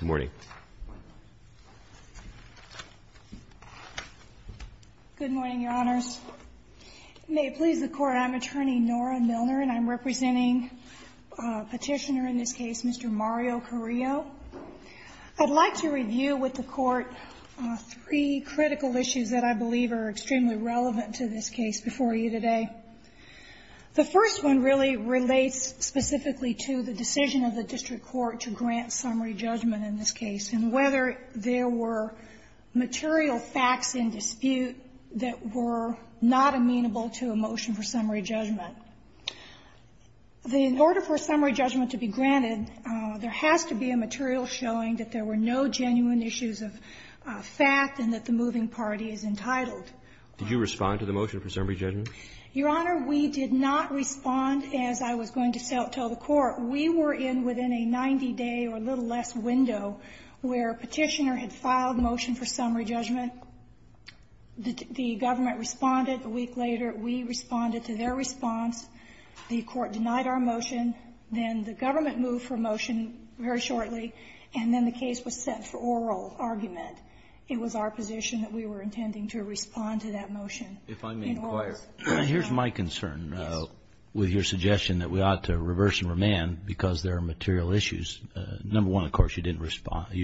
Good morning, Your Honors. May it please the Court, I'm Attorney Nora Milner and I'm representing Petitioner in this case, Mr. Mario Carrillo. I'd like to review with the Court three critical issues that I believe are extremely relevant to this case before you today. The first one really relates specifically to the decision of the district court to grant summary judgment in this case and whether there were material facts in dispute that were not amenable to a motion for summary judgment. In order for summary judgment to be granted, there has to be a material showing that there were no genuine issues of fact and that the moving party is entitled. Roberts. Did you respond to the motion for summary judgment? Milner. Your Honor, we did not respond, as I was going to tell the Court. We were in within a 90-day or a little less window where Petitioner had filed a motion for summary judgment. The government responded a week later. We responded to their response. The Court denied our motion. Then the government moved for a motion very shortly. And then the case was sent for oral argument. It was our position that we were intending to respond to that motion. Kennedy. If I may inquire, here's my concern with your suggestion that we ought to reverse and remand because there are material issues. Number one, of course, you didn't respond.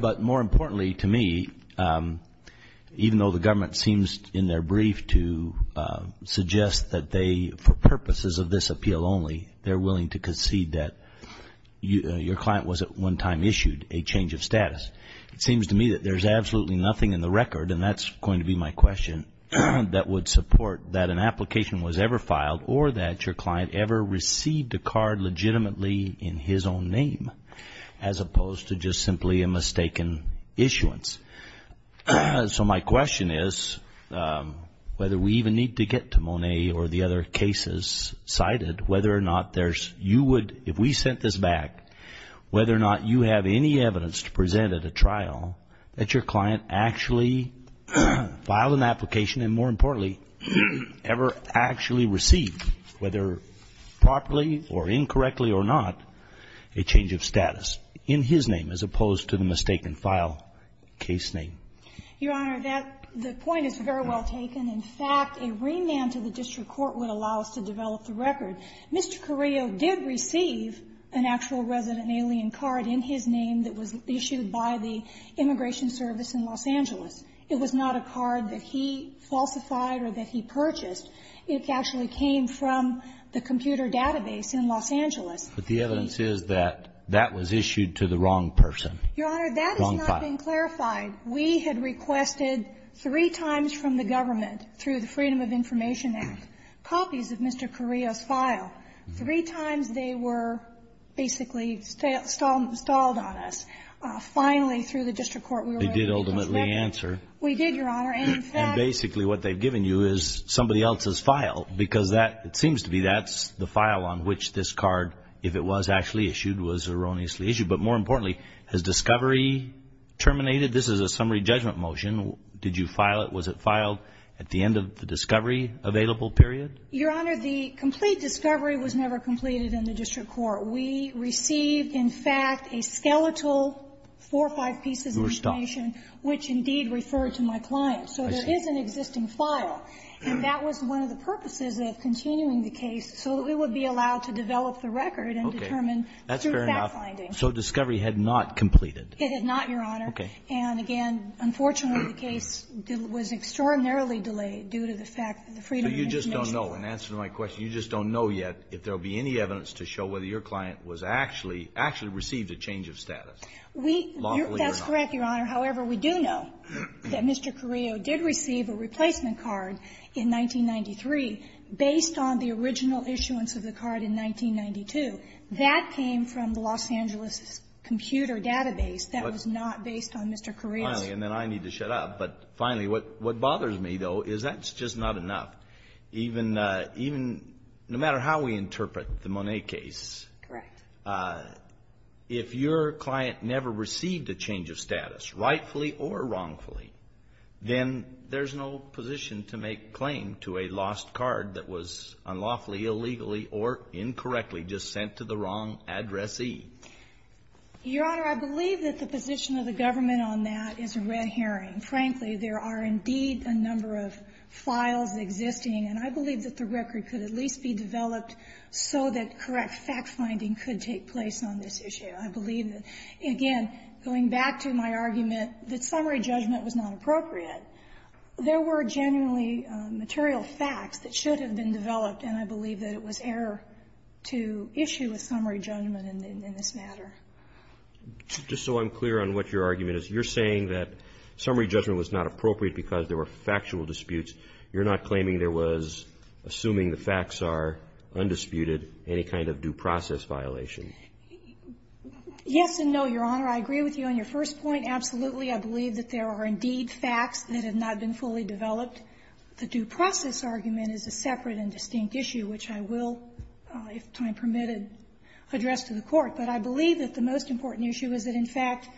But more importantly to me, even though the government seems in their brief to suggest that they, for purposes of this appeal only, they're willing to concede that your client was at one time issued a change of status, it seems to me that there's absolutely nothing in the record, and that's going to be my question, that would support that an application was ever filed or that your client ever received a card legitimately in his own name as opposed to just simply a mistaken issuance. So my question is whether we even need to get to Monet or the other cases cited, whether or not there's, you would, if we sent this back, whether or not you have any evidence to present at a trial that your client actually filed an application and more importantly ever actually received, whether properly or incorrectly or not, a change of status in his name as opposed to the mistaken file case name. Your Honor, that, the point is very well taken. In fact, a remand to the district court would allow us to develop the record. Mr. Carrillo did receive an actual resident alien card in his name that was issued by the Immigration Service in Los Angeles. It was not a card that he falsified or that he purchased. It actually came from the computer database in Los Angeles. But the evidence is that that was issued to the wrong person. Your Honor, that has not been clarified. We had requested three times from the government, through the Freedom of Information Act, copies of Mr. Carrillo's file. Three times they were basically stalled on us. Finally, through the district court, we were able to get those records. They did ultimately answer. We did, Your Honor. And basically what they've given you is somebody else's file because that, it seems to be that's the file on which this card, if it was actually issued, was erroneously issued. But more importantly, has discovery terminated? This is a summary judgment motion. Did you file it? Was it filed at the end of the discovery available period? Your Honor, the complete discovery was never completed in the district court. We received, in fact, a skeletal four or five pieces of information, which indeed referred to my client. So there is an existing file. And that was one of the purposes of continuing the case, so that we would be allowed to develop the record and determine through fact-finding. So discovery had not completed. It had not, Your Honor. Okay. And again, unfortunately, the case was extraordinarily delayed due to the fact that the Freedom of Information Act was not completed. But you just don't know, in answer to my question, you just don't know yet if there will be any evidence to show whether your client was actually actually received a change of status, lawfully or not. We — that's correct, Your Honor. However, we do know that Mr. Carrillo did receive a replacement card in 1993 based on the original issuance of the card in 1992. That came from the Los Angeles computer database. That was not based on Mr. Carrillo's — Finally, and then I need to shut up. But finally, what bothers me, though, is that's just not enough. Even — even — no matter how we interpret the Monet case — Correct. — if your client never received a change of status, rightfully or wrongfully, then there's no position to make claim to a lost card that was unlawfully, illegally, or incorrectly just sent to the wrong addressee. Your Honor, I believe that the position of the government on that is a red herring. Frankly, there are indeed a number of files existing, and I believe that the record could at least be developed so that correct fact-finding could take place on this issue. I believe that, again, going back to my argument that summary judgment was not appropriate, there were genuinely material facts that should have been developed, and I believe that it was error to issue a summary judgment in this matter. Just so I'm clear on what your argument is, you're saying that summary judgment was not appropriate because there were factual disputes. You're not claiming there was, assuming the facts are undisputed, any kind of due process violation. Yes and no, Your Honor. I agree with you on your first point, absolutely. I believe that there are indeed facts that have not been fully developed. The due process argument is a separate and distinct issue, which I will, if time permitted, address to the Court. But I believe that the most important issue is that, in fact,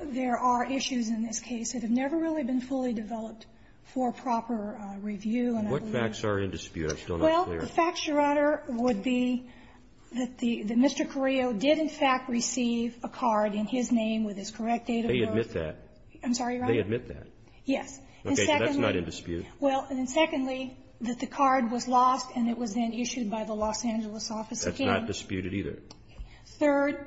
there are issues in this case that have never really been fully developed for proper review. And I believe that the facts are undisputed. Well, the facts, Your Honor, would be that the Mr. Carrillo did, in fact, receive a card in his name with his correct date of birth. They admit that. I'm sorry, Your Honor? They admit that. Yes. Okay. So that's not in dispute. Well, and secondly, that the card was lost and it was then issued by the Los Angeles office again. That's not disputed either. Third,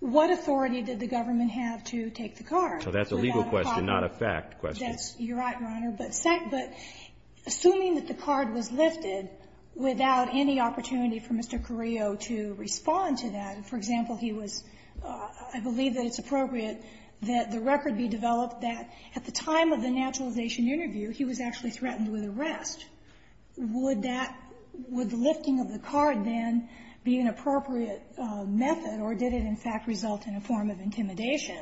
what authority did the government have to take the card? So that's a legal question, not a fact question. That's right, Your Honor. But second, assuming that the card was lifted without any opportunity for Mr. Carrillo to respond to that, for example, he was, I believe that it's appropriate that the record be developed that at the time of the naturalization interview, he was actually threatened with arrest. Would that – would the lifting of the card then be an appropriate method, or did it, in fact, result in a form of intimidation?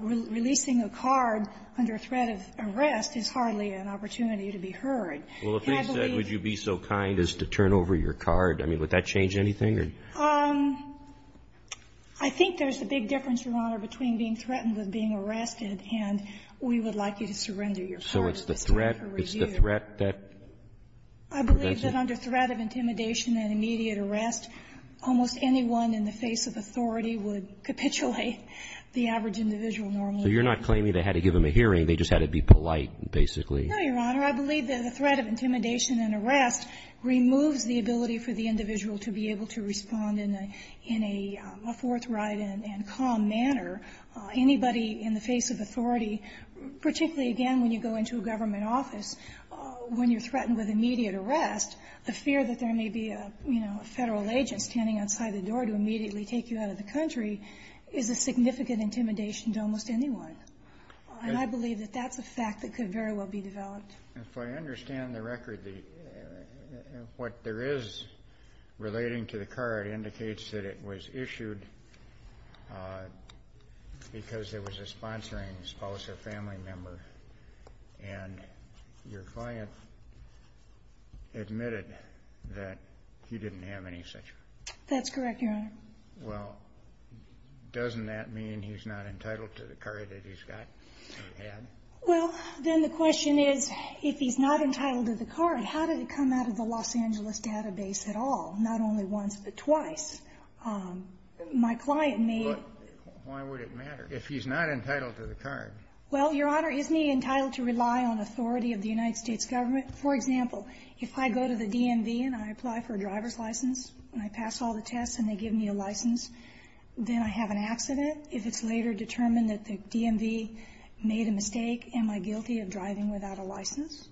Releasing a card under threat of arrest is hardly an opportunity to be heard. Well, if they said, would you be so kind as to turn over your card, I mean, would that change anything? I think there's a big difference, Your Honor, between being threatened with being arrested and we would like you to surrender your card. So it's the threat that prevents it? I believe that under threat of intimidation and immediate arrest, almost anyone in the face of authority would capitulate the average individual normally. So you're not claiming they had to give him a hearing, they just had to be polite, basically? No, Your Honor. I believe that the threat of intimidation and arrest removes the ability for the government to respond in a forthright and calm manner. Anybody in the face of authority, particularly, again, when you go into a government office, when you're threatened with immediate arrest, the fear that there may be a, you know, a Federal agent standing outside the door to immediately take you out of the country is a significant intimidation to almost anyone. And I believe that that's a fact that could very well be developed. If I understand the record, what there is relating to the card indicates that it was issued because there was a sponsoring spouse or family member and your client admitted that he didn't have any such. That's correct, Your Honor. Well, doesn't that mean he's not entitled to the card that he's got? Well, then the question is, if he's not entitled to the card, how did it come out of the Los Angeles database at all, not only once but twice? My client may be entitled to the card. But why would it matter if he's not entitled to the card? Well, Your Honor, isn't he entitled to rely on authority of the United States government? For example, if I go to the DMV and I apply for a driver's license and I pass all the tests and they give me a license, then I have an accident. If it's later determined that the DMV made a mistake, am I guilty of driving without a license?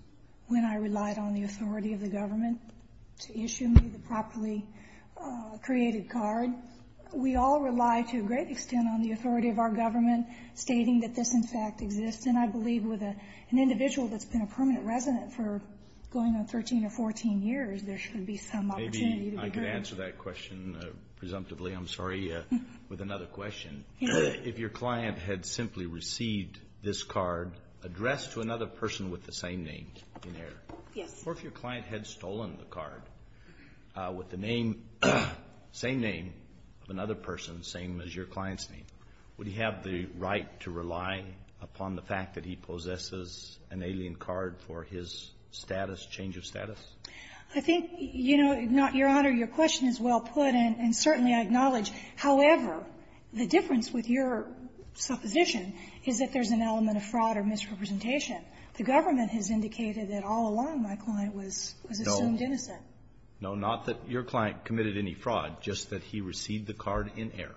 When I relied on the authority of the government to issue me the properly created card, we all rely to a great extent on the authority of our government stating that this, in fact, exists. And I believe with an individual that's been a permanent resident for going on 13 or 14 years, there should be some opportunity to occur. Maybe I could answer that question presumptively, I'm sorry, with another question. If your client had simply received this card addressed to another person with the same name in here, or if your client had stolen the card with the name, same name of another person, same as your client's name, would he have the right to rely upon the fact that he possesses an alien card for his status, change of status? I think, you know, Your Honor, your question is well put and certainly I acknowledge. However, the difference with your supposition is that there's an element of fraud or misrepresentation. The government has indicated that all along my client was assumed innocent. No. No, not that your client committed any fraud, just that he received the card in error.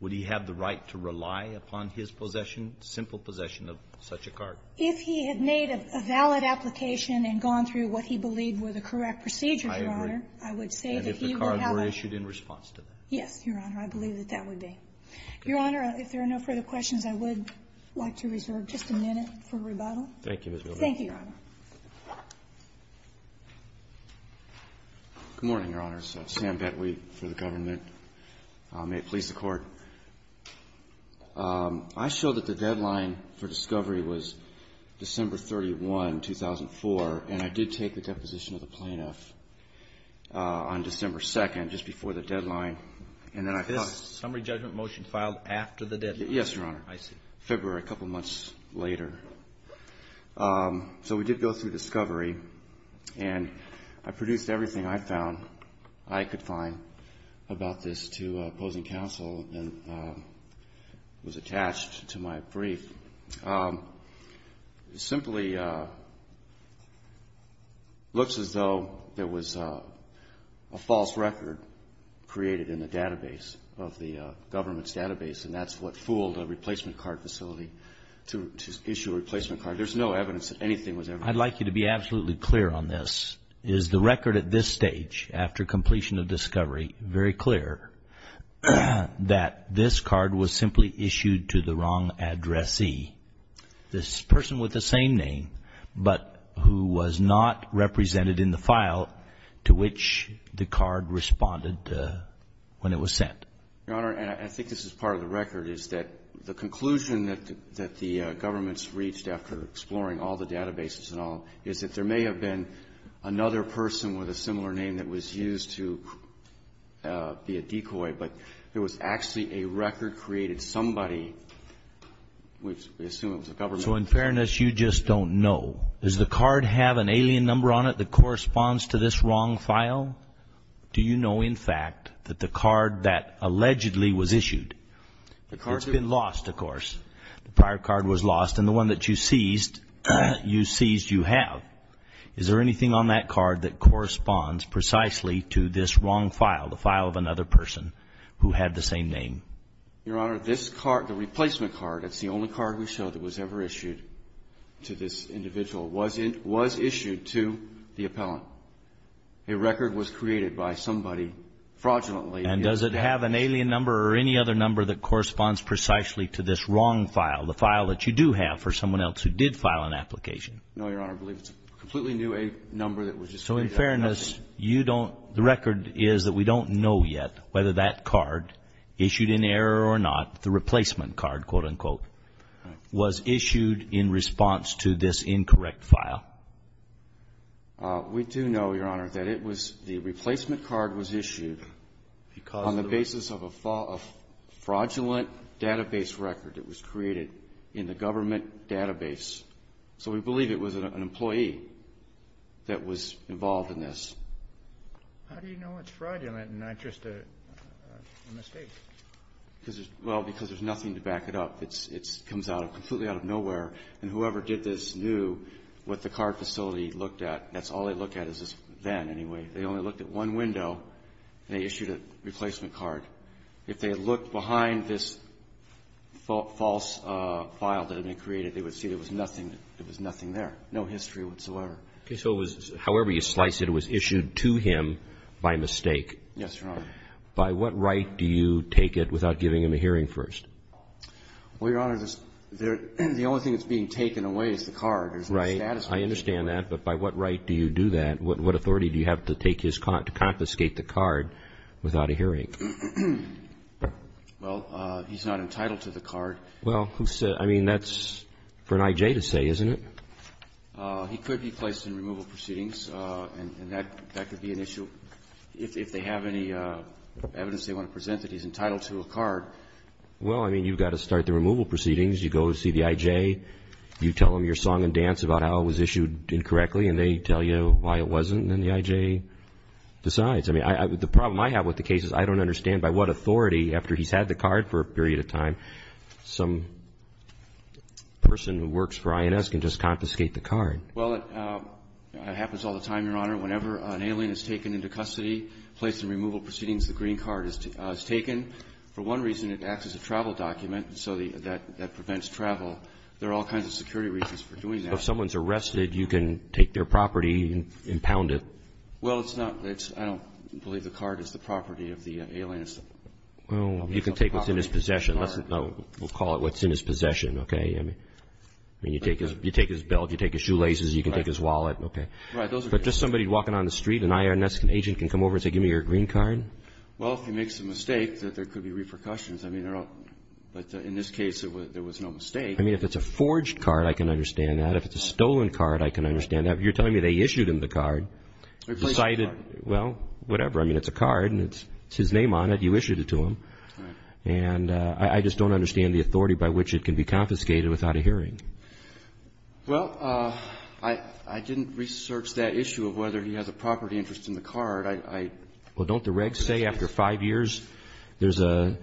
Would he have the right to rely upon his possession, simple possession of such a card? If he had made a valid application and gone through what he believed were the correct procedures, Your Honor, I would say that he would have a ---- And if the cards were issued in response to that. Yes, Your Honor. I believe that that would be. Your Honor, if there are no further questions, I would like to reserve just a minute for rebuttal. Thank you, Ms. Gilday. Thank you, Your Honor. Good morning, Your Honors. Sam Bettweat for the government. May it please the Court. I showed that the deadline for discovery was December 31, 2004, and I did take the And then I thought ---- This summary judgment motion filed after the deadline? Yes, Your Honor. I see. February, a couple months later. So we did go through discovery, and I produced everything I found, I could find, about this to opposing counsel and was attached to my brief. It simply looks as though there was a false record created in the database, of the government's database, and that's what fooled a replacement card facility to issue a replacement card. There's no evidence that anything was ever ---- I'd like you to be absolutely clear on this. Is the record at this stage, after completion of discovery, very clear that this card was simply issued to the wrong addressee, this person with the same name, but who was not represented in the file to which the card responded when it was sent? Your Honor, and I think this is part of the record, is that the conclusion that the government's reached after exploring all the databases and all is that there may have been another person with a similar name that was used to be a decoy, but there was actually a record created somebody, which we assume it was the government. So in fairness, you just don't know. Does the card have an alien number on it that corresponds to this wrong file? Do you know, in fact, that the card that allegedly was issued, it's been lost, of course. The prior card was lost, and the one that you seized, you seized, you have. Is there anything on that card that corresponds precisely to this wrong file, the file of another person who had the same name? Your Honor, this card, the replacement card, it's the only card we show that was ever issued to this individual, was issued to the appellant. A record was created by somebody fraudulently. And does it have an alien number or any other number that corresponds precisely to this wrong file, the file that you do have for someone else who did file an application? No, Your Honor, I believe it's a completely new number that was just created. In fairness, the record is that we don't know yet whether that card, issued in error or not, the replacement card, quote, unquote, was issued in response to this incorrect file. We do know, Your Honor, that the replacement card was issued on the basis of a fraudulent database record that was created in the government database. So we believe it was an employee that was involved in this. How do you know it's fraudulent and not just a mistake? Well, because there's nothing to back it up. It comes out of, completely out of nowhere. And whoever did this knew what the card facility looked at. That's all they looked at is this van, anyway. They only looked at one window. They issued a replacement card. If they had looked behind this false file that had been created, they would see there was nothing there. No history whatsoever. Okay. So it was, however you slice it, it was issued to him by mistake. Yes, Your Honor. By what right do you take it without giving him a hearing first? Well, Your Honor, the only thing that's being taken away is the card. There's no status for it. I understand that. But by what right do you do that? What authority do you have to confiscate the card without a hearing? Well, he's not entitled to the card. Well, I mean, that's for an I.J. to say, isn't it? He could be placed in removal proceedings, and that could be an issue. If they have any evidence they want to present that he's entitled to a card. Well, I mean, you've got to start the removal proceedings. You go to see the I.J. You tell them your song and dance about how it was issued incorrectly, and they tell you why it wasn't. Then the I.J. decides. I mean, the problem I have with the case is I don't understand by what authority, after he's had the card for a period of time, some person who works for I.N.S. can just confiscate the card. Well, it happens all the time, Your Honor. Whenever an alien is taken into custody, placed in removal proceedings, the green card is taken. For one reason, it acts as a travel document, and so that prevents travel. There are all kinds of security reasons for doing that. If someone's arrested, you can take their property and pound it? Well, it's not. I don't believe the card is the property of the alien. Well, you can take what's in his possession. We'll call it what's in his possession, okay? I mean, you take his belt. You take his shoelaces. You can take his wallet. Okay. But just somebody walking on the street, an I.N.S. agent can come over and say, give me your green card? Well, if he makes a mistake, there could be repercussions. I mean, in this case, there was no mistake. I mean, if it's a forged card, I can understand that. If it's a stolen card, I can understand that. If you're telling me they issued him the card, decided, well, whatever. I mean, it's a card, and it's his name on it. You issued it to him. And I just don't understand the authority by which it can be confiscated without a hearing. Well, I didn't research that issue of whether he has a property interest in the card. Well, don't the regs say after five years, there's a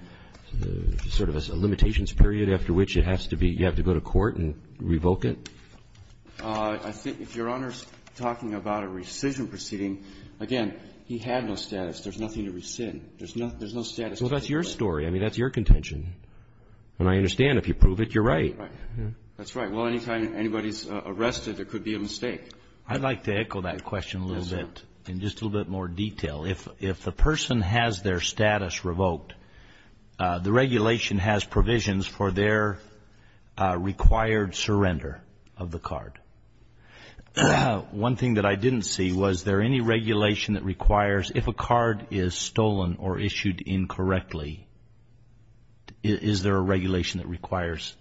sort of a limitations period after which it has to be, you have to go to court and revoke it? I think if Your Honor's talking about a rescission proceeding, again, he had no status. There's nothing to rescind. There's no status. Well, that's your story. I mean, that's your contention. And I understand if you prove it, you're right. That's right. Well, anytime anybody's arrested, there could be a mistake. I'd like to echo that question a little bit in just a little bit more detail. If the person has their status revoked, the regulation has provisions for their required surrender of the card. One thing that I didn't see, was there any regulation that requires, if a card is stolen or issued incorrectly, is there a regulation that requires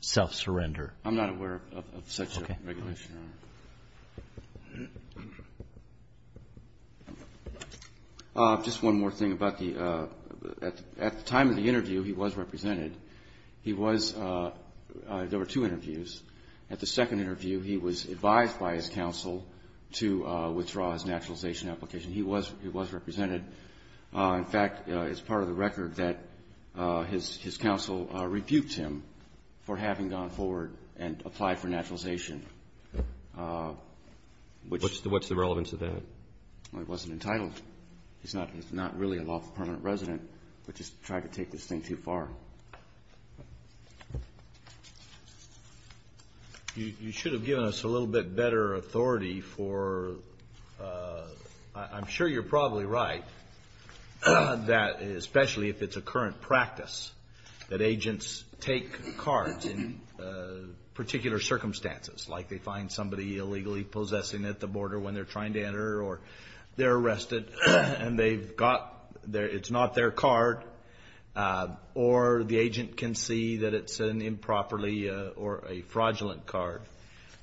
self-surrender? I'm not aware of such a regulation. Just one more thing about the, at the time of the interview, he was represented. He was, there were two interviews. At the second interview, he was advised by his counsel to withdraw his naturalization application. He was represented. In fact, it's part of the record that his counsel rebuked him for having gone forward and applied for naturalization. What's the relevance of that? He wasn't entitled. He's not really a lawful permanent resident, but just tried to take this thing too far. You should have given us a little bit better authority for, I'm sure you're probably right, that especially if it's a current practice, that agents take cards in particular circumstances, like they find somebody illegally possessing at the border when they're trying to enter, or they're arrested and they've got, it's not their card, or the agent can see that it's an improperly or a fraudulent card.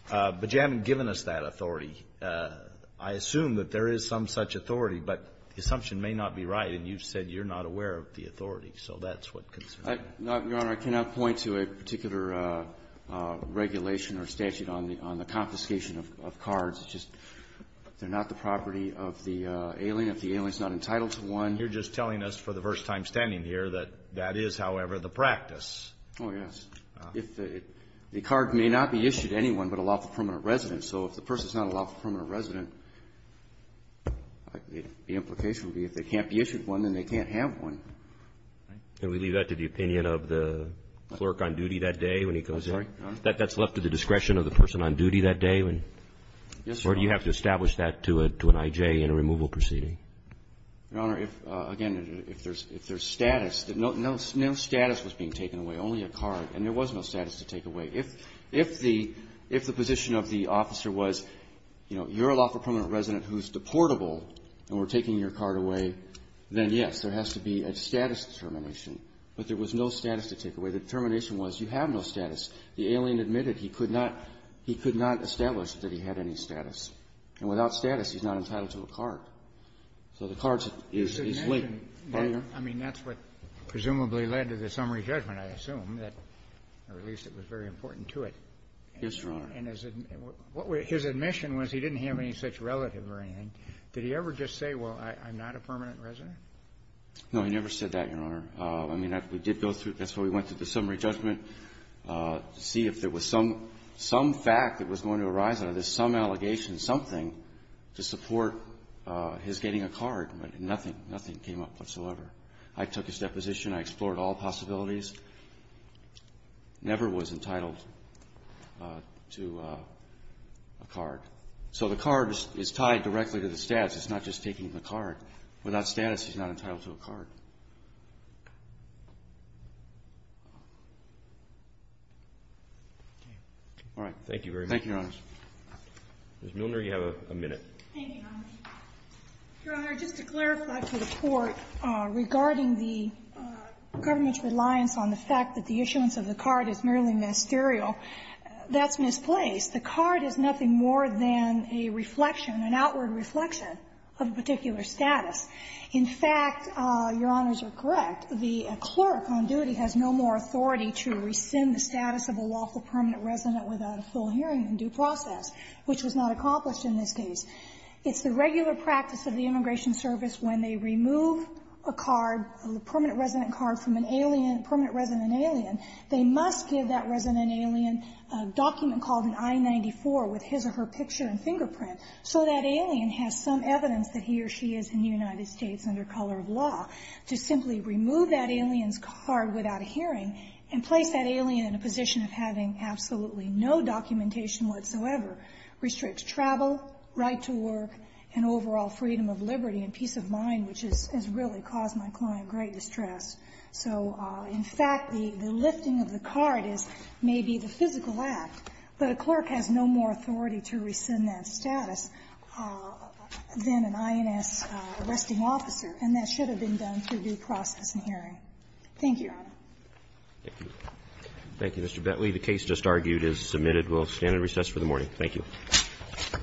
But you haven't given us that authority. I assume that there is some such authority, but the assumption may not be right, and you've said you're not aware of the authority. So that's what concerns me. No, Your Honor. I cannot point to a particular regulation or statute on the confiscation of cards. It's just, they're not the property of the alien. If the alien's not entitled to one. You're just telling us for the first time standing here that that is, however, the practice. Oh, yes. The card may not be issued to anyone but a lawful permanent resident. So if the person's not a lawful permanent resident, the implication would be if they can't be issued one, then they can't have one. Can we leave that to the opinion of the clerk on duty that day when he goes in? I'm sorry, Your Honor? That's left to the discretion of the person on duty that day? Yes, Your Honor. Or do you have to establish that to an IJ in a removal proceeding? Your Honor, if, again, if there's status, no status was being taken away, only a card. And there was no status to take away. If the position of the officer was, you know, you're a lawful permanent resident who's deportable and we're taking your card away, then, yes, there has to be a status determination. But there was no status to take away. The determination was you have no status. The alien admitted he could not establish that he had any status. And without status, he's not entitled to a card. So the card is leaked. I mean, that's what presumably led to the summary judgment, I assume, that or at least it was very important to it. Yes, Your Honor. And his admission was he didn't have any such relative or anything. Did he ever just say, well, I'm not a permanent resident? No, he never said that, Your Honor. I mean, we did go through, that's why we went through the summary judgment to see if there was some fact that was going to arise out of this, some allegation, something to support his getting a card. But nothing came up whatsoever. I took his deposition. I explored all possibilities. Never was entitled to a card. So the card is tied directly to the status. It's not just taking the card. Without status, he's not entitled to a card. All right. Thank you very much. Thank you, Your Honors. Ms. Milner, you have a minute. Thank you, Your Honor. Your Honor, just to clarify to the Court, regarding the government's reliance on the fact that the issuance of the card is merely ministerial, that's misplaced. The card is nothing more than a reflection, an outward reflection of a particular status. In fact, Your Honors are correct. The clerk on duty has no more authority to rescind the status of a lawful permanent resident without a full hearing in due process, which was not accomplished in this case. It's the regular practice of the Immigration Service when they remove a card, a permanent resident card from a permanent resident alien, they must give that resident alien a document called an I-94 with his or her picture and fingerprint so that alien has some evidence that he or she is in the United States under color of law. To simply remove that alien's card without a hearing and place that alien in a permanent residence with absolutely no documentation whatsoever restricts travel, right to work, and overall freedom of liberty and peace of mind, which has really caused my client great distress. So in fact, the lifting of the card is maybe the physical act, but a clerk has no more authority to rescind that status than an INS arresting officer, and that should have been done through due process and hearing. Thank you, Your Honor. Thank you. Thank you, Mr. Betley. The case just argued is submitted. We'll stand at recess for the morning. Thank you.